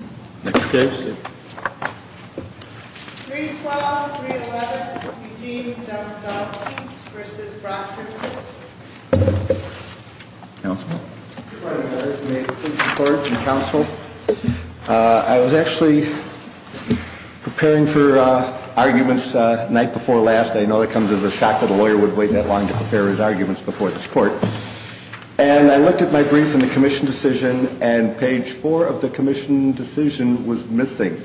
312, 311, Eugene D'Ambrosalski v. Brochers. I was actually preparing for arguments the night before last. I know that comes as a shock that a lawyer would wait that long to prepare his arguments before this court. And I looked at my brief and the commission decision and page four of the commission decision was missing.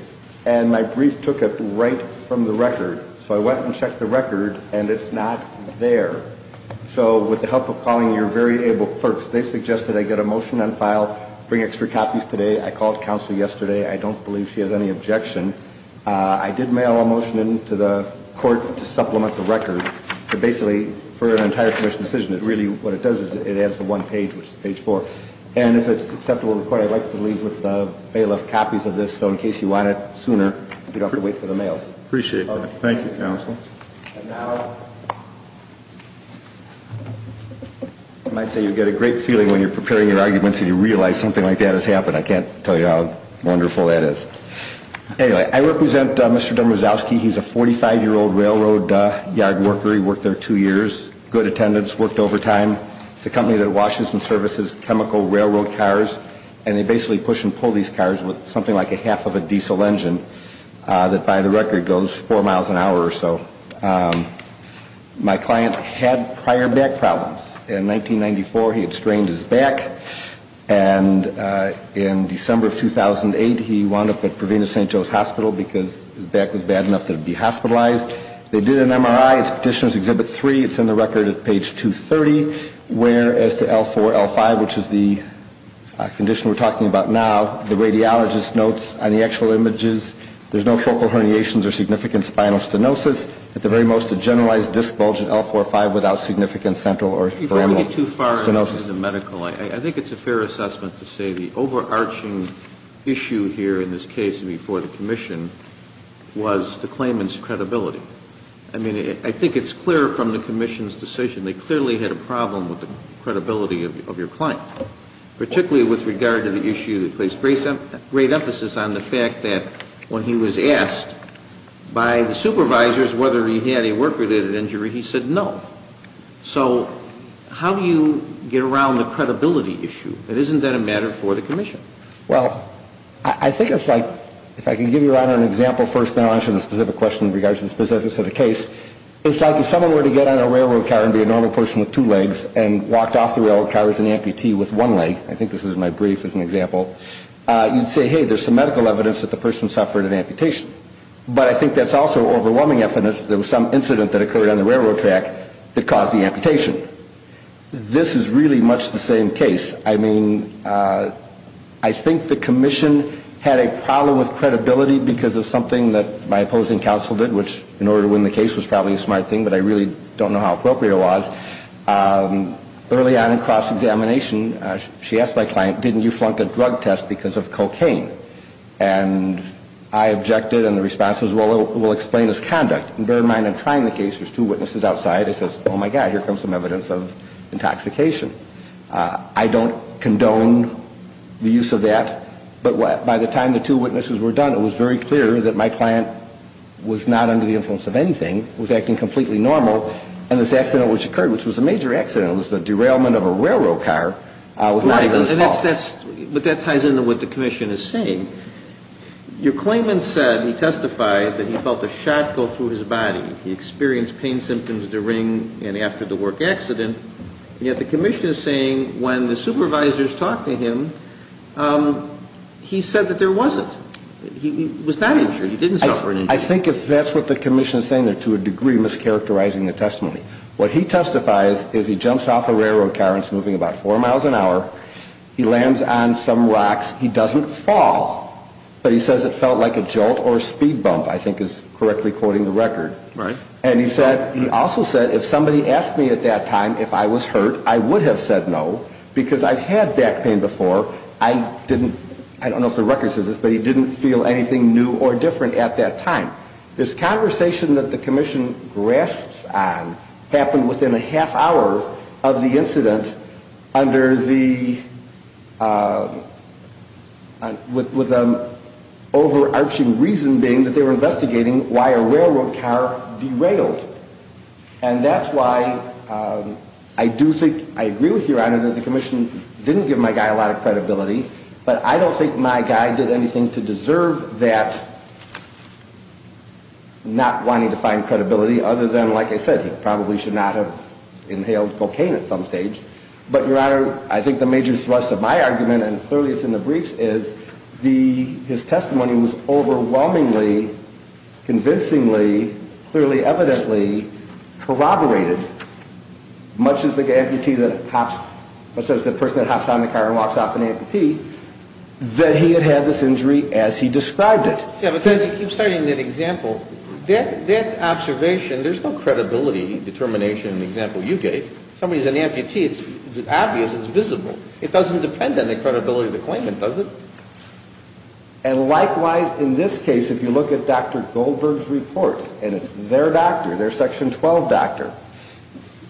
And my brief took it right from the record. So I went and checked the record and it's not there. So with the help of calling your very able clerks, they suggested I get a motion on file, bring extra copies today. I called counsel yesterday. I don't believe she has any objection. I did mail a motion in to the court to supplement the record. But basically, for an entire commission decision, really what it does is it adds the one page, which is page four. And if it's acceptable to the court, I'd like to leave with bailiff copies of this. So in case you want it sooner, you don't have to wait for the mail. Appreciate that. Thank you, counsel. And now, I might say you get a great feeling when you're preparing your arguments and you realize something like that has happened. I can't tell you how wonderful that is. Anyway, I represent Mr. Demersowski. He's a 45-year-old railroad yard worker. He worked there two years, good attendance, worked overtime. It's a company that washes and services chemical railroad cars. And they basically push and pull these cars with something like a half of a diesel engine that, by the record, goes four miles an hour or so. My client had prior back problems. In 1994, he had strained his back. And in December of 2008, he wound up at Provino St. Joe's Hospital because his back was bad enough that it would be hospitalized. They did an MRI. It's Petitioner's Exhibit 3. It's in the record at page 230, where, as to L4, L5, which is the condition we're talking about now, the radiologist notes on the actual images, there's no focal herniations or significant spinal stenosis. It's at the very most a generalized disc bulge at L4, L5 without significant central or pheromonal stenosis. If I get too far into the medical, I think it's a fair assessment to say the overarching issue here in this case, and before the commission, was the claimant's credibility. I mean, I think it's clear from the commission's decision they clearly had a problem with the credibility of your client, particularly with regard to the issue that placed great emphasis on the fact that when he was asked by the supervisors, whether he had a work-related injury, he said no. So how do you get around the credibility issue? Isn't that a matter for the commission? Well, I think it's like, if I can give Your Honor an example first, and I'll answer the specific question in regards to the specifics of the case, it's like if someone were to get on a railroad car and be a normal person with two legs and walked off the railroad car as an amputee with one leg, I think this is my brief as an example, you'd say, hey, there's some medical evidence that the person suffered an amputation. But I think that's also overwhelming evidence that there was some incident that occurred on the railroad track that caused the amputation. This is really much the same case. I mean, I think the commission had a problem with credibility because of something that my opposing counsel did, which in order to win the case was probably a smart thing, but I really don't know how appropriate it was. Early on in cross-examination, she asked my client, didn't you flunk a drug test because of cocaine? And I objected, and the response was, well, it will explain its conduct. And bear in mind, I'm trying the case. There's two witnesses outside. It says, oh, my God, here comes some evidence of intoxication. I don't condone the use of that. But by the time the two witnesses were done, it was very clear that my client was not under the influence of anything, was acting completely normal, and this accident which occurred, which was a major accident, it was the derailment of a railroad car, was not even small. But that ties into what the commission is saying. Your claimant said, he testified, that he felt a shot go through his body. He experienced pain symptoms during and after the work accident. Yet the commission is saying when the supervisors talked to him, he said that there wasn't. He was not injured. He didn't suffer an injury. I think if that's what the commission is saying, they're to a degree mischaracterizing the testimony. What he testifies is he jumps off a railroad car and is moving about four miles an hour. He lands on some rocks. He doesn't fall. But he says it felt like a jolt or a speed bump, I think is correctly quoting the record. Right. And he said, he also said if somebody asked me at that time if I was hurt, I would have said no, because I've had back pain before. I didn't, I don't know if the record says this, but he didn't feel anything new or different at that time. This conversation that the commission grasps on happened within a half hour of the incident under the, with an overarching reason being that they were investigating why a railroad car derailed. And that's why I do think, I agree with you, Your Honor, that the commission didn't give my guy a lot of credibility. But I don't think my guy did anything to deserve that not wanting to find credibility other than, like I said, he probably should not have inhaled cocaine at some stage. But, Your Honor, I think the major thrust of my argument, and clearly it's in the briefs, is the, his testimony was overwhelmingly, convincingly, clearly evidently corroborated. Much as the amputee that hops, much as the person that hops on the car and walks off an amputee, that he had had this injury as he described it. Yeah, because he keeps citing that example. That observation, there's no credibility determination in the example you gave. Somebody's an amputee, it's obvious, it's visible. It doesn't depend on the credibility of the claimant, does it? And likewise, in this case, if you look at Dr. Goldberg's report, and it's their doctor, their Section 12 doctor,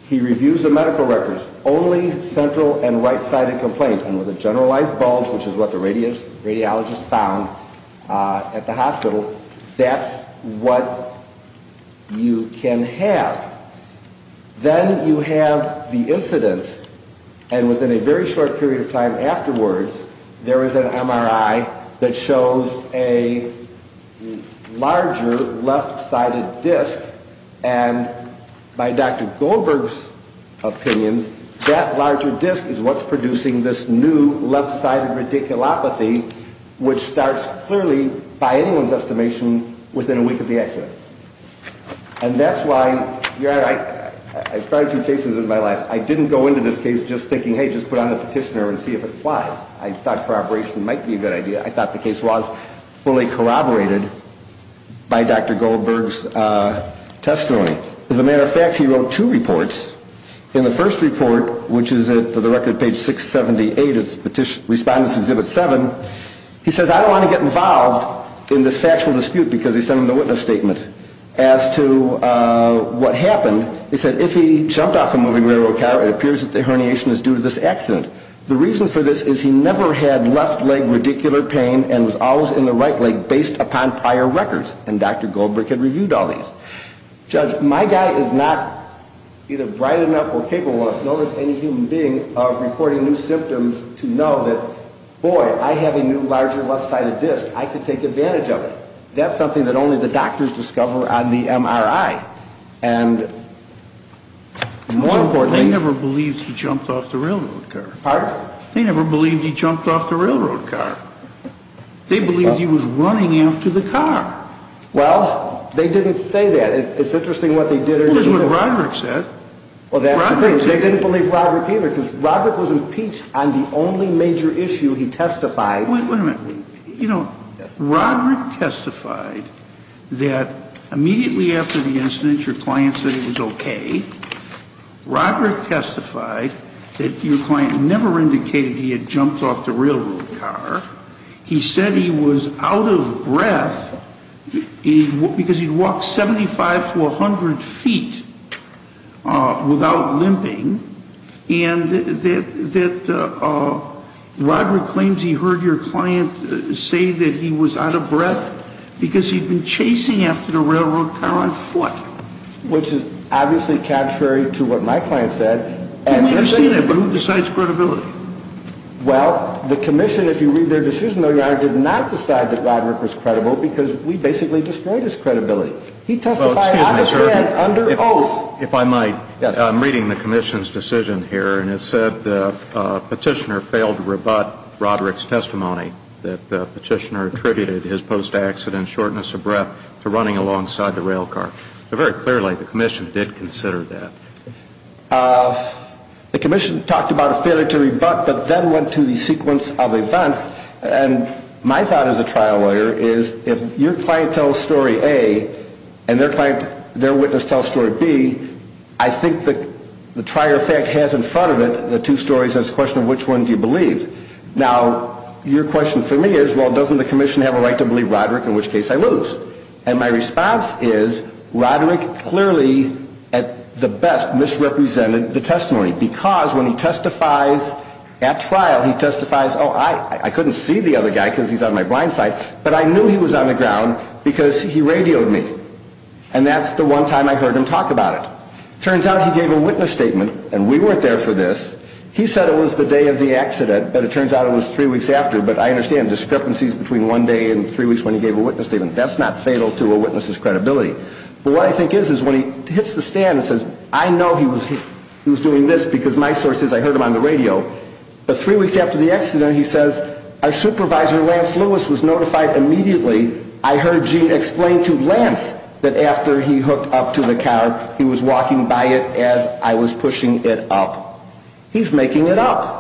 he reviews the medical records, only central and right-sided complaints. And with a generalized bulge, which is what the radiologist found at the hospital, that's what you can have. Then you have the incident, and within a very short period of time afterwards, there is an MRI that shows a larger left-sided disc, and by Dr. Goldberg's opinions, that larger disc is what's producing this new left-sided radiculopathy, which starts clearly, by anyone's estimation, within a week of the accident. And that's why, Your Honor, I've tried a few cases in my life. I didn't go into this case just thinking, hey, just put on the petitioner and see if it flies. I thought corroboration might be a good idea. I thought the case was fully corroborated by Dr. Goldberg's testimony. As a matter of fact, he wrote two reports. In the first report, which is at, for the record, page 678, Respondents Exhibit 7, he says, I don't want to get involved in this factual dispute, because he sent him the witness statement. As to what happened, he said, if he jumped off a moving railroad car, it appears that the herniation is due to this accident. The reason for this is he never had left-leg radicular pain, and was always in the right leg based upon prior records. And Dr. Goldberg had reviewed all these. Judge, my guy is not either bright enough or capable, of reporting new symptoms to know that, boy, I have a new larger left-sided disc. I can take advantage of it. That's something that only the doctors discover on the MRI. And more importantly... They never believed he jumped off the railroad car. Pardon? They never believed he jumped off the railroad car. They believed he was running after the car. Well, they didn't say that. It's interesting what they did or didn't say. That's what Roderick said. They didn't believe Roderick either, because Roderick was impeached on the only major issue he testified. Wait a minute. You know, Roderick testified that immediately after the incident, your client said it was okay. Roderick testified that your client never indicated he had jumped off the railroad car. He said he was out of breath, because he'd walked 75 to 100 feet without limping, and that Roderick claims he heard your client say that he was out of breath because he'd been chasing after the railroad car on foot. Which is obviously contrary to what my client said. I understand that, but who decides credibility? Well, the commission, if you read their decision, did not decide that Roderick was credible because we basically destroyed his credibility. He testified, I understand, under oath. If I might, I'm reading the commission's decision here, and it said the petitioner failed to rebut Roderick's testimony that the petitioner attributed his post-accident shortness of breath to running alongside the railroad car. Very clearly, the commission did consider that. The commission talked about a failure to rebut, but then went to the sequence of events, and my thought as a trial lawyer is if your client tells story A and their witness tells story B, I think that the trier of fact has in front of it the two stories and it's a question of which one do you believe. Now, your question for me is, well, doesn't the commission have a right to believe Roderick, in which case I lose? And my response is Roderick clearly, at the best, misrepresented the testimony, because when he testifies at trial, he testifies, oh, I couldn't see the other guy because he's on my blind side, but I knew he was on the ground because he radioed me, and that's the one time I heard him talk about it. It turns out he gave a witness statement, and we weren't there for this. He said it was the day of the accident, but it turns out it was three weeks after, but I understand discrepancies between one day and three weeks when he gave a witness statement. That's not fatal to a witness's credibility. But what I think is, is when he hits the stand and says, I know he was doing this because my sources, I heard him on the radio, but three weeks after the accident, he says, our supervisor, Lance Lewis, was notified immediately. I heard Gene explain to Lance that after he hooked up to the car, he was walking by it as I was pushing it up. He's making it up.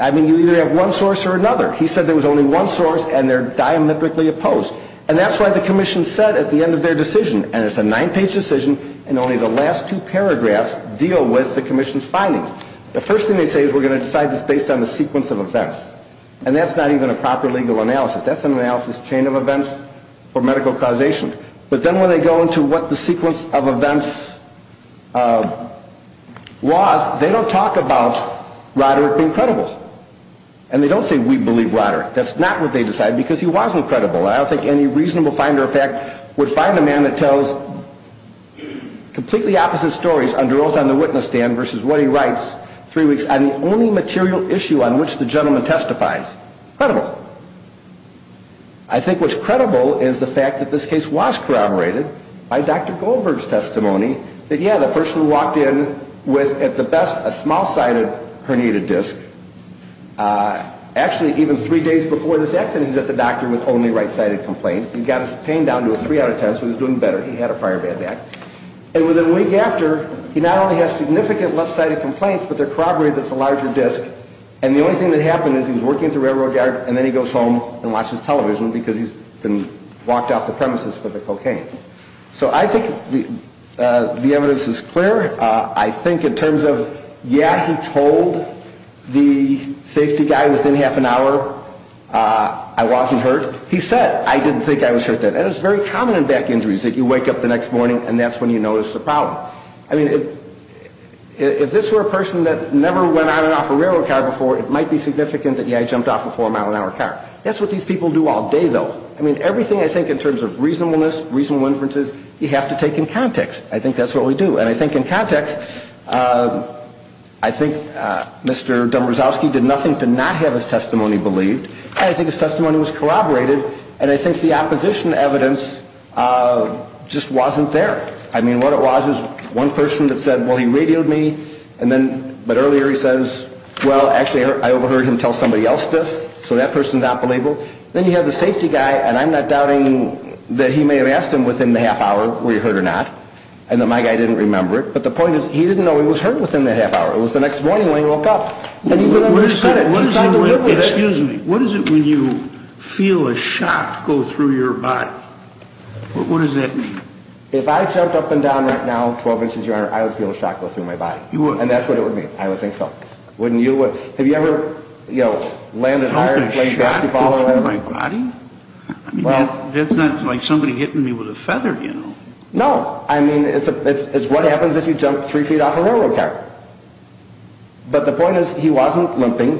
I mean, you either have one source or another. He said there was only one source, and they're diametrically opposed. And that's why the commission said at the end of their decision, and it's a nine-page decision, and only the last two paragraphs deal with the commission's findings. The first thing they say is we're going to decide this based on the sequence of events, and that's not even a proper legal analysis. That's an analysis chain of events for medical causation. But then when they go into what the sequence of events was, they don't talk about Roderick being credible, and they don't say we believe Roderick. That's not what they decide because he wasn't credible. I don't think any reasonable finder of fact would find a man that tells completely opposite stories under oath on the witness stand versus what he writes three weeks on the only material issue on which the gentleman testifies credible. I think what's credible is the fact that this case was corroborated by Dr. Goldberg's testimony that, yeah, the person walked in with, at the best, a small-sided herniated disc. Actually, even three days before this accident, he was at the doctor with only right-sided complaints. He got his pain down to a three out of ten, so he was doing better. He had a prior bad back. And within a week after, he not only has significant left-sided complaints, but they're corroborated with a larger disc. And the only thing that happened is he was working at the railroad yard, and then he goes home and watches television because he's been walked off the premises for the cocaine. So I think the evidence is clear. I think in terms of, yeah, he told the safety guy within half an hour I wasn't hurt. He said, I didn't think I was hurt then. And it's very common in back injuries that you wake up the next morning, and that's when you notice the problem. I mean, if this were a person that never went on and off a railroad car before, it might be significant that, yeah, I jumped off a four-mile-an-hour car. That's what these people do all day, though. I mean, everything I think in terms of reasonableness, reasonable inferences, you have to take in context. I think that's what we do. And I think in context, I think Mr. Dombrosowski did nothing to not have his testimony believed, and I think his testimony was corroborated, and I think the opposition evidence just wasn't there. I mean, what it was is one person that said, well, he radioed me, but earlier he says, well, actually I overheard him tell somebody else this, so that person's not believable. Then you have the safety guy, and I'm not doubting that he may have asked him within the half hour, were you hurt or not, and then my guy didn't remember it. But the point is, he didn't know he was hurt within that half hour. It was the next morning when he woke up. And he didn't understand it. He's trying to live with it. Excuse me. What is it when you feel a shock go through your body? What does that mean? If I jumped up and down right now 12 inches, Your Honor, I would feel a shock go through my body. You wouldn't. And that's what it would be. I would think so. Wouldn't you? Have you ever, you know, landed hard and played basketball or whatever? Felt a shock go through my body? That's not like somebody hitting me with a feather, you know. No. I mean, it's what happens if you jump three feet off a railroad car. But the point is, he wasn't limping.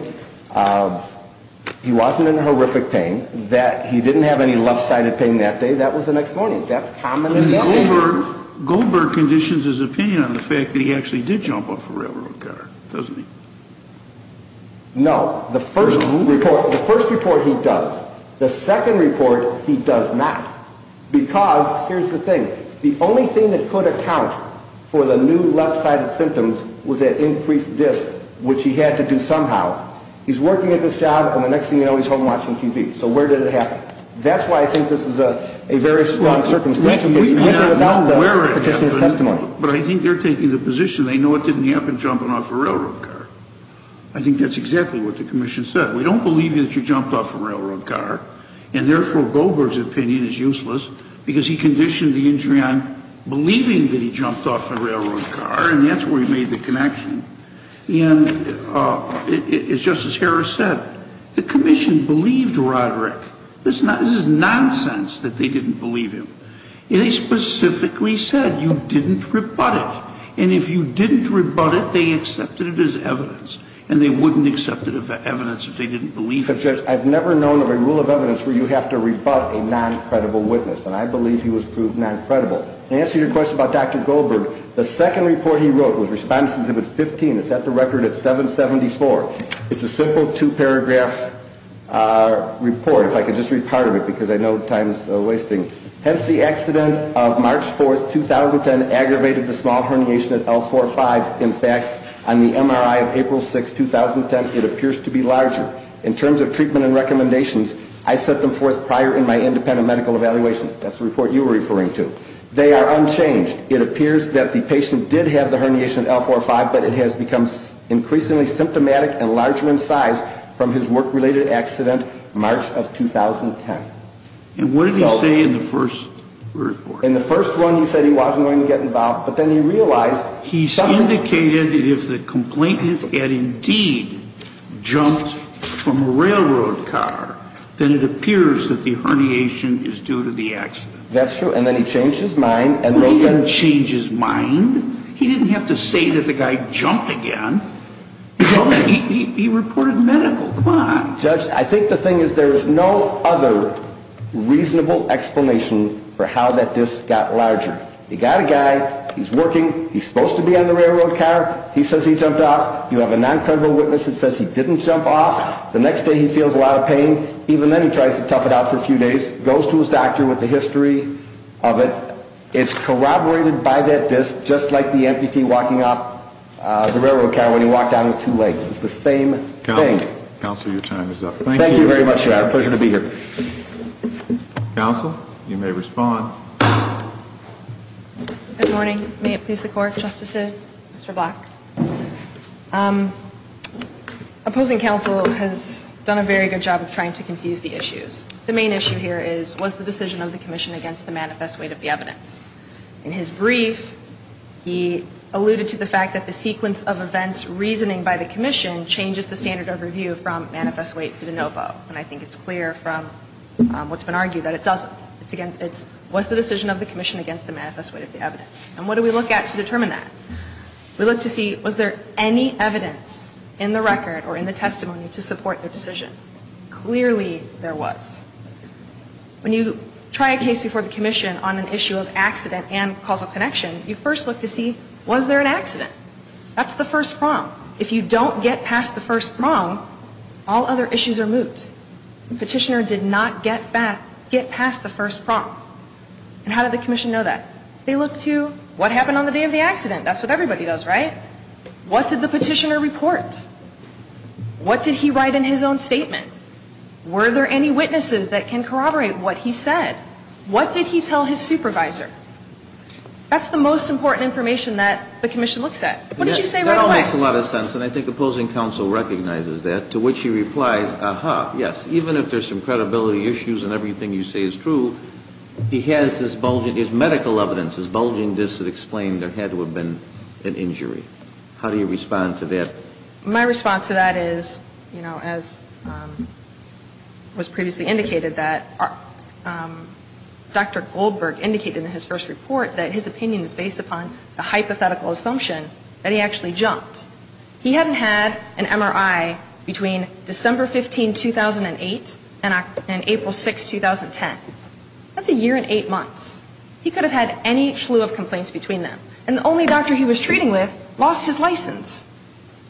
He wasn't in horrific pain. He didn't have any left-sided pain that day. That was the next morning. That's commonly seen. Goldberg conditions his opinion on the fact that he actually did jump off a railroad car, doesn't he? No. The first report he does. The second report he does not. Because here's the thing. The only thing that could account for the new left-sided symptoms was that increased disk, which he had to do somehow. He's working at this job, and the next thing you know, he's home watching TV. So where did it happen? That's why I think this is a very strong circumstantial case. He went there without the petitioner's testimony. But I think they're taking the position they know it didn't happen jumping off a railroad car. I think that's exactly what the commission said. We don't believe that you jumped off a railroad car, and therefore Goldberg's opinion is useless because he conditioned the injury on believing that he jumped off a railroad car, and that's where he made the connection. And as Justice Harris said, the commission believed Roderick. This is nonsense that they didn't believe him. And they specifically said you didn't rebut it. And if you didn't rebut it, they accepted it as evidence, and they wouldn't accept it as evidence if they didn't believe it. I've never known of a rule of evidence where you have to rebut a noncredible witness, and I believe he was proved noncredible. To answer your question about Dr. Goldberg, the second report he wrote was Respondents Exhibit 15. It's at the record at 774. It's a simple two-paragraph report, if I could just read part of it because I know time's wasting. Hence, the accident of March 4, 2010, aggravated the small herniation at L4-5. In fact, on the MRI of April 6, 2010, it appears to be larger. In terms of treatment and recommendations, I set them forth prior in my independent medical evaluation. That's the report you were referring to. They are unchanged. It appears that the patient did have the herniation at L4-5, but it has become increasingly symptomatic and larger in size from his work-related accident March of 2010. And what did he say in the first report? In the first one, he said he wasn't going to get involved, but then he realized... He indicated that if the complainant had indeed jumped from a railroad car, then it appears that the herniation is due to the accident. That's true. And then he changed his mind. He didn't change his mind. He didn't have to say that the guy jumped again. He reported medical. Come on. Judge, I think the thing is there is no other reasonable explanation for how that disc got larger. You got a guy. He's working. He's supposed to be on the railroad car. He says he jumped off. You have a noncredible witness that says he didn't jump off. The next day, he feels a lot of pain. Even then, he tries to tough it out for a few days, goes to his doctor with the history of it. It's corroborated by that disc, just like the amputee walking off the railroad car when he walked out on two legs. It's the same thing. It's a story that can be told. So there is no other reasonable explanation for how that disc got larger. Counsel, your time is up. Thank you very much, Your Honor. Pleasure to be here. Counsel, you may respond. Good morning. May it please the Court, Justices? Mr. Black. Opposing counsel has done a very good job of trying to confuse the issues. The main issue here is, was the decision of the commission against the manifest weight of the evidence? In his brief, he alluded to the fact that the sequence of events reasoning by the commission changes the standard of review from manifest weight to de novo. And I think it's clear from what's been argued that it doesn't. It's, was the decision of the commission against the manifest weight of the evidence? And what do we look at to determine that? We look to see, was there any evidence in the record or in the testimony to support the decision? Clearly there was. When you try a case before the commission on an issue of accident and causal connection, you first look to see, was there an accident? That's the first prong. If you don't get past the first prong, all other issues are moot. The petitioner did not get past the first prong. And how did the commission know that? They looked to, what happened on the day of the accident? That's what everybody does, right? What did the petitioner report? What did he write in his own statement? Were there any witnesses that can corroborate what he said? What did he tell his supervisor? That's the most important information that the commission looks at. What did you say right away? That all makes a lot of sense, and I think opposing counsel recognizes that, to which he replies, ah-ha, yes. Even if there's some credibility issues and everything you say is true, he has this bulging, his medical evidence is bulging, this explained there had to have been an injury. How do you respond to that? My response to that is, you know, as was previously indicated, that Dr. Goldberg indicated in his first report that his opinion is based upon the hypothetical assumption that he actually jumped. He hadn't had an MRI between December 15, 2008 and April 6, 2010. That's a year and eight months. He could have had any slew of complaints between them. And the only doctor he was treating with lost his license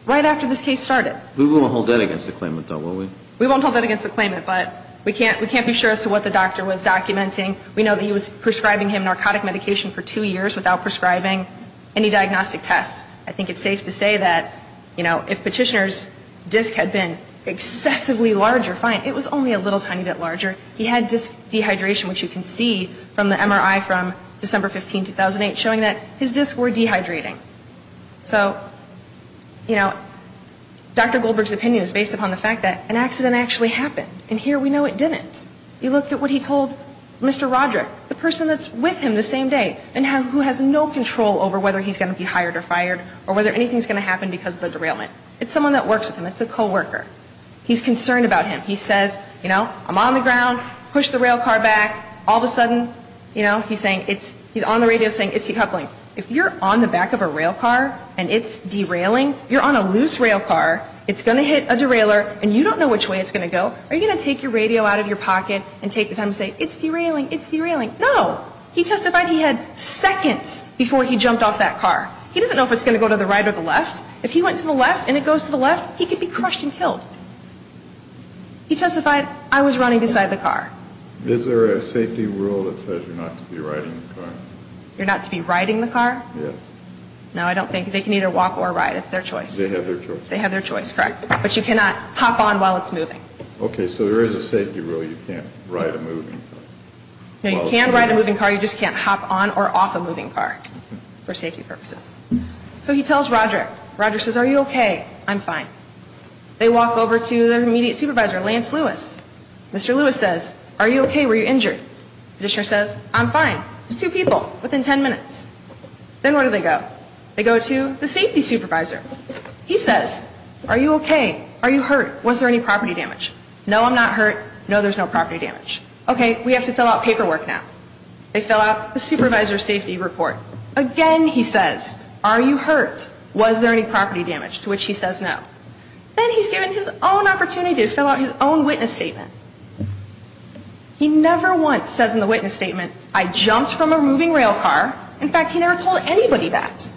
right after this case started. We won't hold that against the claimant, though, will we? We won't hold that against the claimant, but we can't be sure as to what the doctor was documenting. We know that he was prescribing him narcotic medication for two years without prescribing any diagnostic test. I think it's safe to say that, you know, if Petitioner's disc had been excessively larger, fine, it was only a little tiny bit larger. He had disc dehydration, which you can see from the MRI from December 15, 2008, showing that his discs were dehydrating. So, you know, Dr. Goldberg's opinion is based upon the fact that an accident actually happened, and here we know it didn't. You look at what he told Mr. Roderick, the person that's with him the same day, and who has no control over whether he's going to be hired or fired or whether anything's going to happen because of the derailment. It's someone that works with him. It's a co-worker. He's concerned about him. He says, you know, I'm on the ground, push the rail car back. All of a sudden, you know, he's saying it's he's on the radio saying it's decoupling. If you're on the back of a rail car and it's derailing, you're on a loose rail car, it's going to hit a derailer, and you don't know which way it's going to go. Are you going to take your radio out of your pocket and take the time to say it's derailing, it's derailing? No. He testified he had seconds before he jumped off that car. He doesn't know if it's going to go to the right or the left. If he went to the left and it goes to the left, he could be crushed and killed. He testified, I was running beside the car. Is there a safety rule that says you're not to be riding the car? You're not to be riding the car? Yes. No, I don't think. They can either walk or ride. It's their choice. They have their choice. They have their choice, correct. But you cannot hop on while it's moving. Okay. So there is a safety rule you can't ride a moving car. No, you can ride a moving car. You just can't hop on or off a moving car for safety purposes. So he tells Roger. Roger says, are you okay? I'm fine. They walk over to their immediate supervisor, Lance Lewis. Mr. Lewis says, are you okay? Were you injured? The judge says, I'm fine. There's two people within ten minutes. Then where do they go? They go to the safety supervisor. He says, are you okay? Are you hurt? Was there any property damage? No, I'm not hurt. No, there's no property damage. Okay, we have to fill out paperwork now. They fill out the supervisor's safety report. Again, he says, are you hurt? Was there any property damage? To which he says no. Then he's given his own opportunity to fill out his own witness statement. He never once says in the witness statement, I jumped from a moving rail car. In fact, he never told anybody that.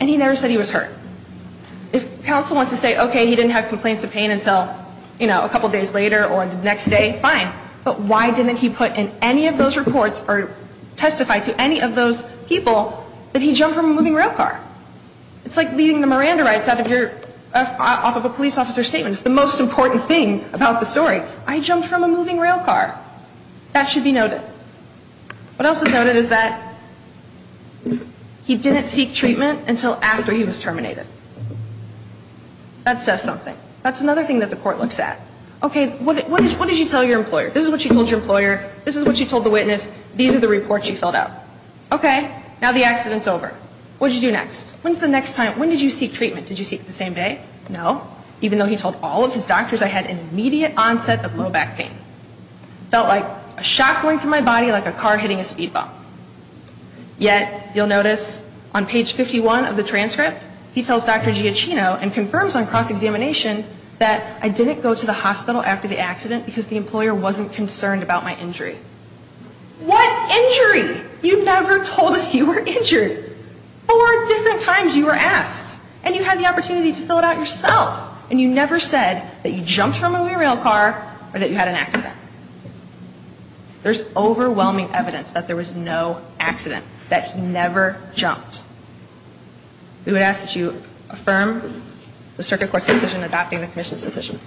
And he never said he was hurt. If counsel wants to say, okay, he didn't have complaints of pain until, you know, a couple days later or the next day, fine. But why didn't he put in any of those reports or testify to any of those people that he jumped from a moving rail car? It's like leaving the Miranda rights off of a police officer's statement. It's the most important thing about the story. I jumped from a moving rail car. That should be noted. What else is noted is that he didn't seek treatment until after he was terminated. That says something. That's another thing that the court looks at. Okay, what did you tell your employer? This is what you told your employer. This is what you told the witness. These are the reports you filled out. Okay. Now the accident's over. What did you do next? When's the next time? When did you seek treatment? Did you seek it the same day? No. Even though he told all of his doctors I had immediate onset of low back pain. It felt like a shock going through my body like a car hitting a speed bump. Yet you'll notice on page 51 of the transcript he tells Dr. Giacchino and confirms on cross-examination that I didn't go to the hospital after the accident because the employer wasn't concerned about my injury. What injury? You never told us you were injured. Four different times you were asked. And you had the opportunity to fill it out yourself. And you never said that you jumped from a moving rail car or that you had an accident. There's overwhelming evidence that there was no accident, that he never jumped. We would ask that you affirm the circuit court's decision adopting the commission's decision.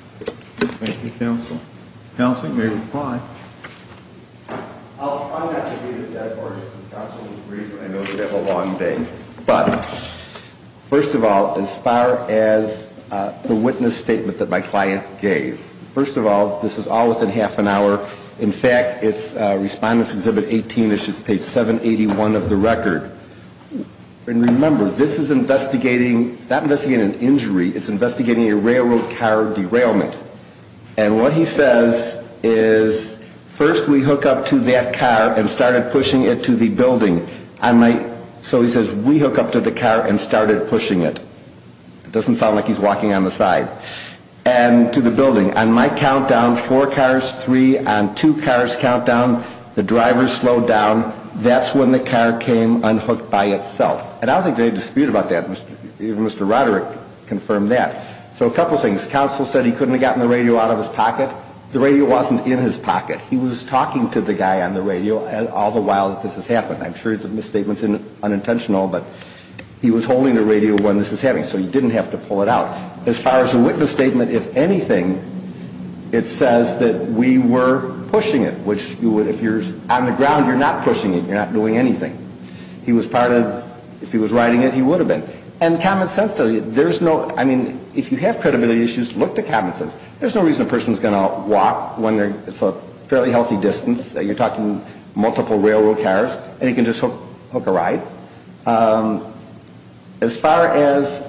Thank you, counsel. Counsel, you may reply. I'll try not to be a dead horse. Counsel, I know we have a long day. But first of all, as far as the witness statement that my client gave, first of all, this is all within half an hour. In fact, Respondents Exhibit 18 is just page 781 of the record. And remember, this is investigating, it's not investigating an injury. It's investigating a railroad car derailment. And what he says is, first we hook up to that car and started pushing it to the building. So he says, we hook up to the car and started pushing it. It doesn't sound like he's walking on the side. And to the building. On my countdown, four cars, three. On two cars' countdown, the driver slowed down. That's when the car came unhooked by itself. And I don't think there's any dispute about that. Mr. Roderick confirmed that. So a couple things. Counsel said he couldn't have gotten the radio out of his pocket. The radio wasn't in his pocket. He was talking to the guy on the radio all the while this was happening. I'm sure the misstatement's unintentional, but he was holding the radio when this was happening. So he didn't have to pull it out. As far as the witness statement, if anything, it says that we were pushing it. Which, if you're on the ground, you're not pushing it. You're not doing anything. He was part of, if he was riding it, he would have been. And common sense, there's no, I mean, if you have credibility issues, look to common sense. There's no reason a person's going to walk when it's a fairly healthy distance. You're talking multiple railroad cars. And he can just hook a ride. As far as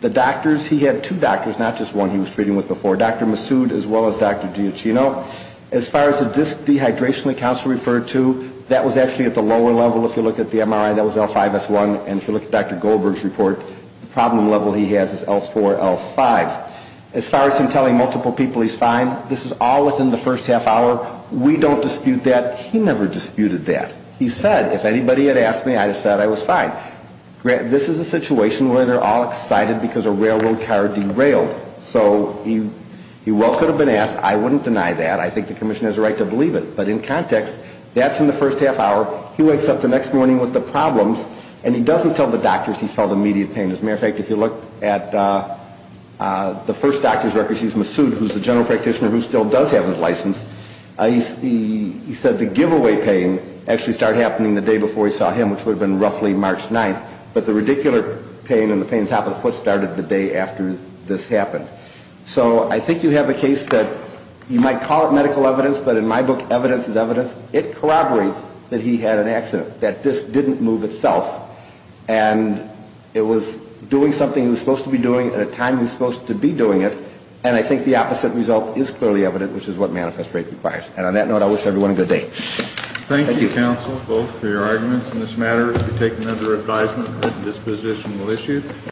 the doctors, he had two doctors, not just one he was treating with before, Dr. Massoud as well as Dr. Diaccino. As far as the disk dehydration that counsel referred to, that was actually at the lower level. If you look at the MRI, that was L5S1. And if you look at Dr. Goldberg's report, the problem level he has is L4, L5. As far as him telling multiple people he's fine, this is all within the first half hour. We don't dispute that. He never disputed that. He said, if anybody had asked me, I just thought I was fine. This is a situation where they're all excited because a railroad car derailed. So he well could have been asked. I wouldn't deny that. I think the commission has a right to believe it. But in context, that's in the first half hour. He wakes up the next morning with the problems, and he doesn't tell the doctors he felt immediate pain. As a matter of fact, if you look at the first doctor's record, she's Massoud, who's the general practitioner who still does have his license. He said the giveaway pain actually started happening the day before he saw him, which would have been roughly March 9th. But the radicular pain and the pain on top of the foot started the day after this happened. So I think you have a case that you might call it medical evidence, but in my book, evidence is evidence. It corroborates that he had an accident, that this didn't move itself. And it was doing something he was supposed to be doing at a time he was supposed to be doing it. And I think the opposite result is clearly evident, which is what manifest rate requires. And on that note, I wish everyone a good day. Thank you, counsel, both for your arguments in this matter. We take them under advisement. This position will issue.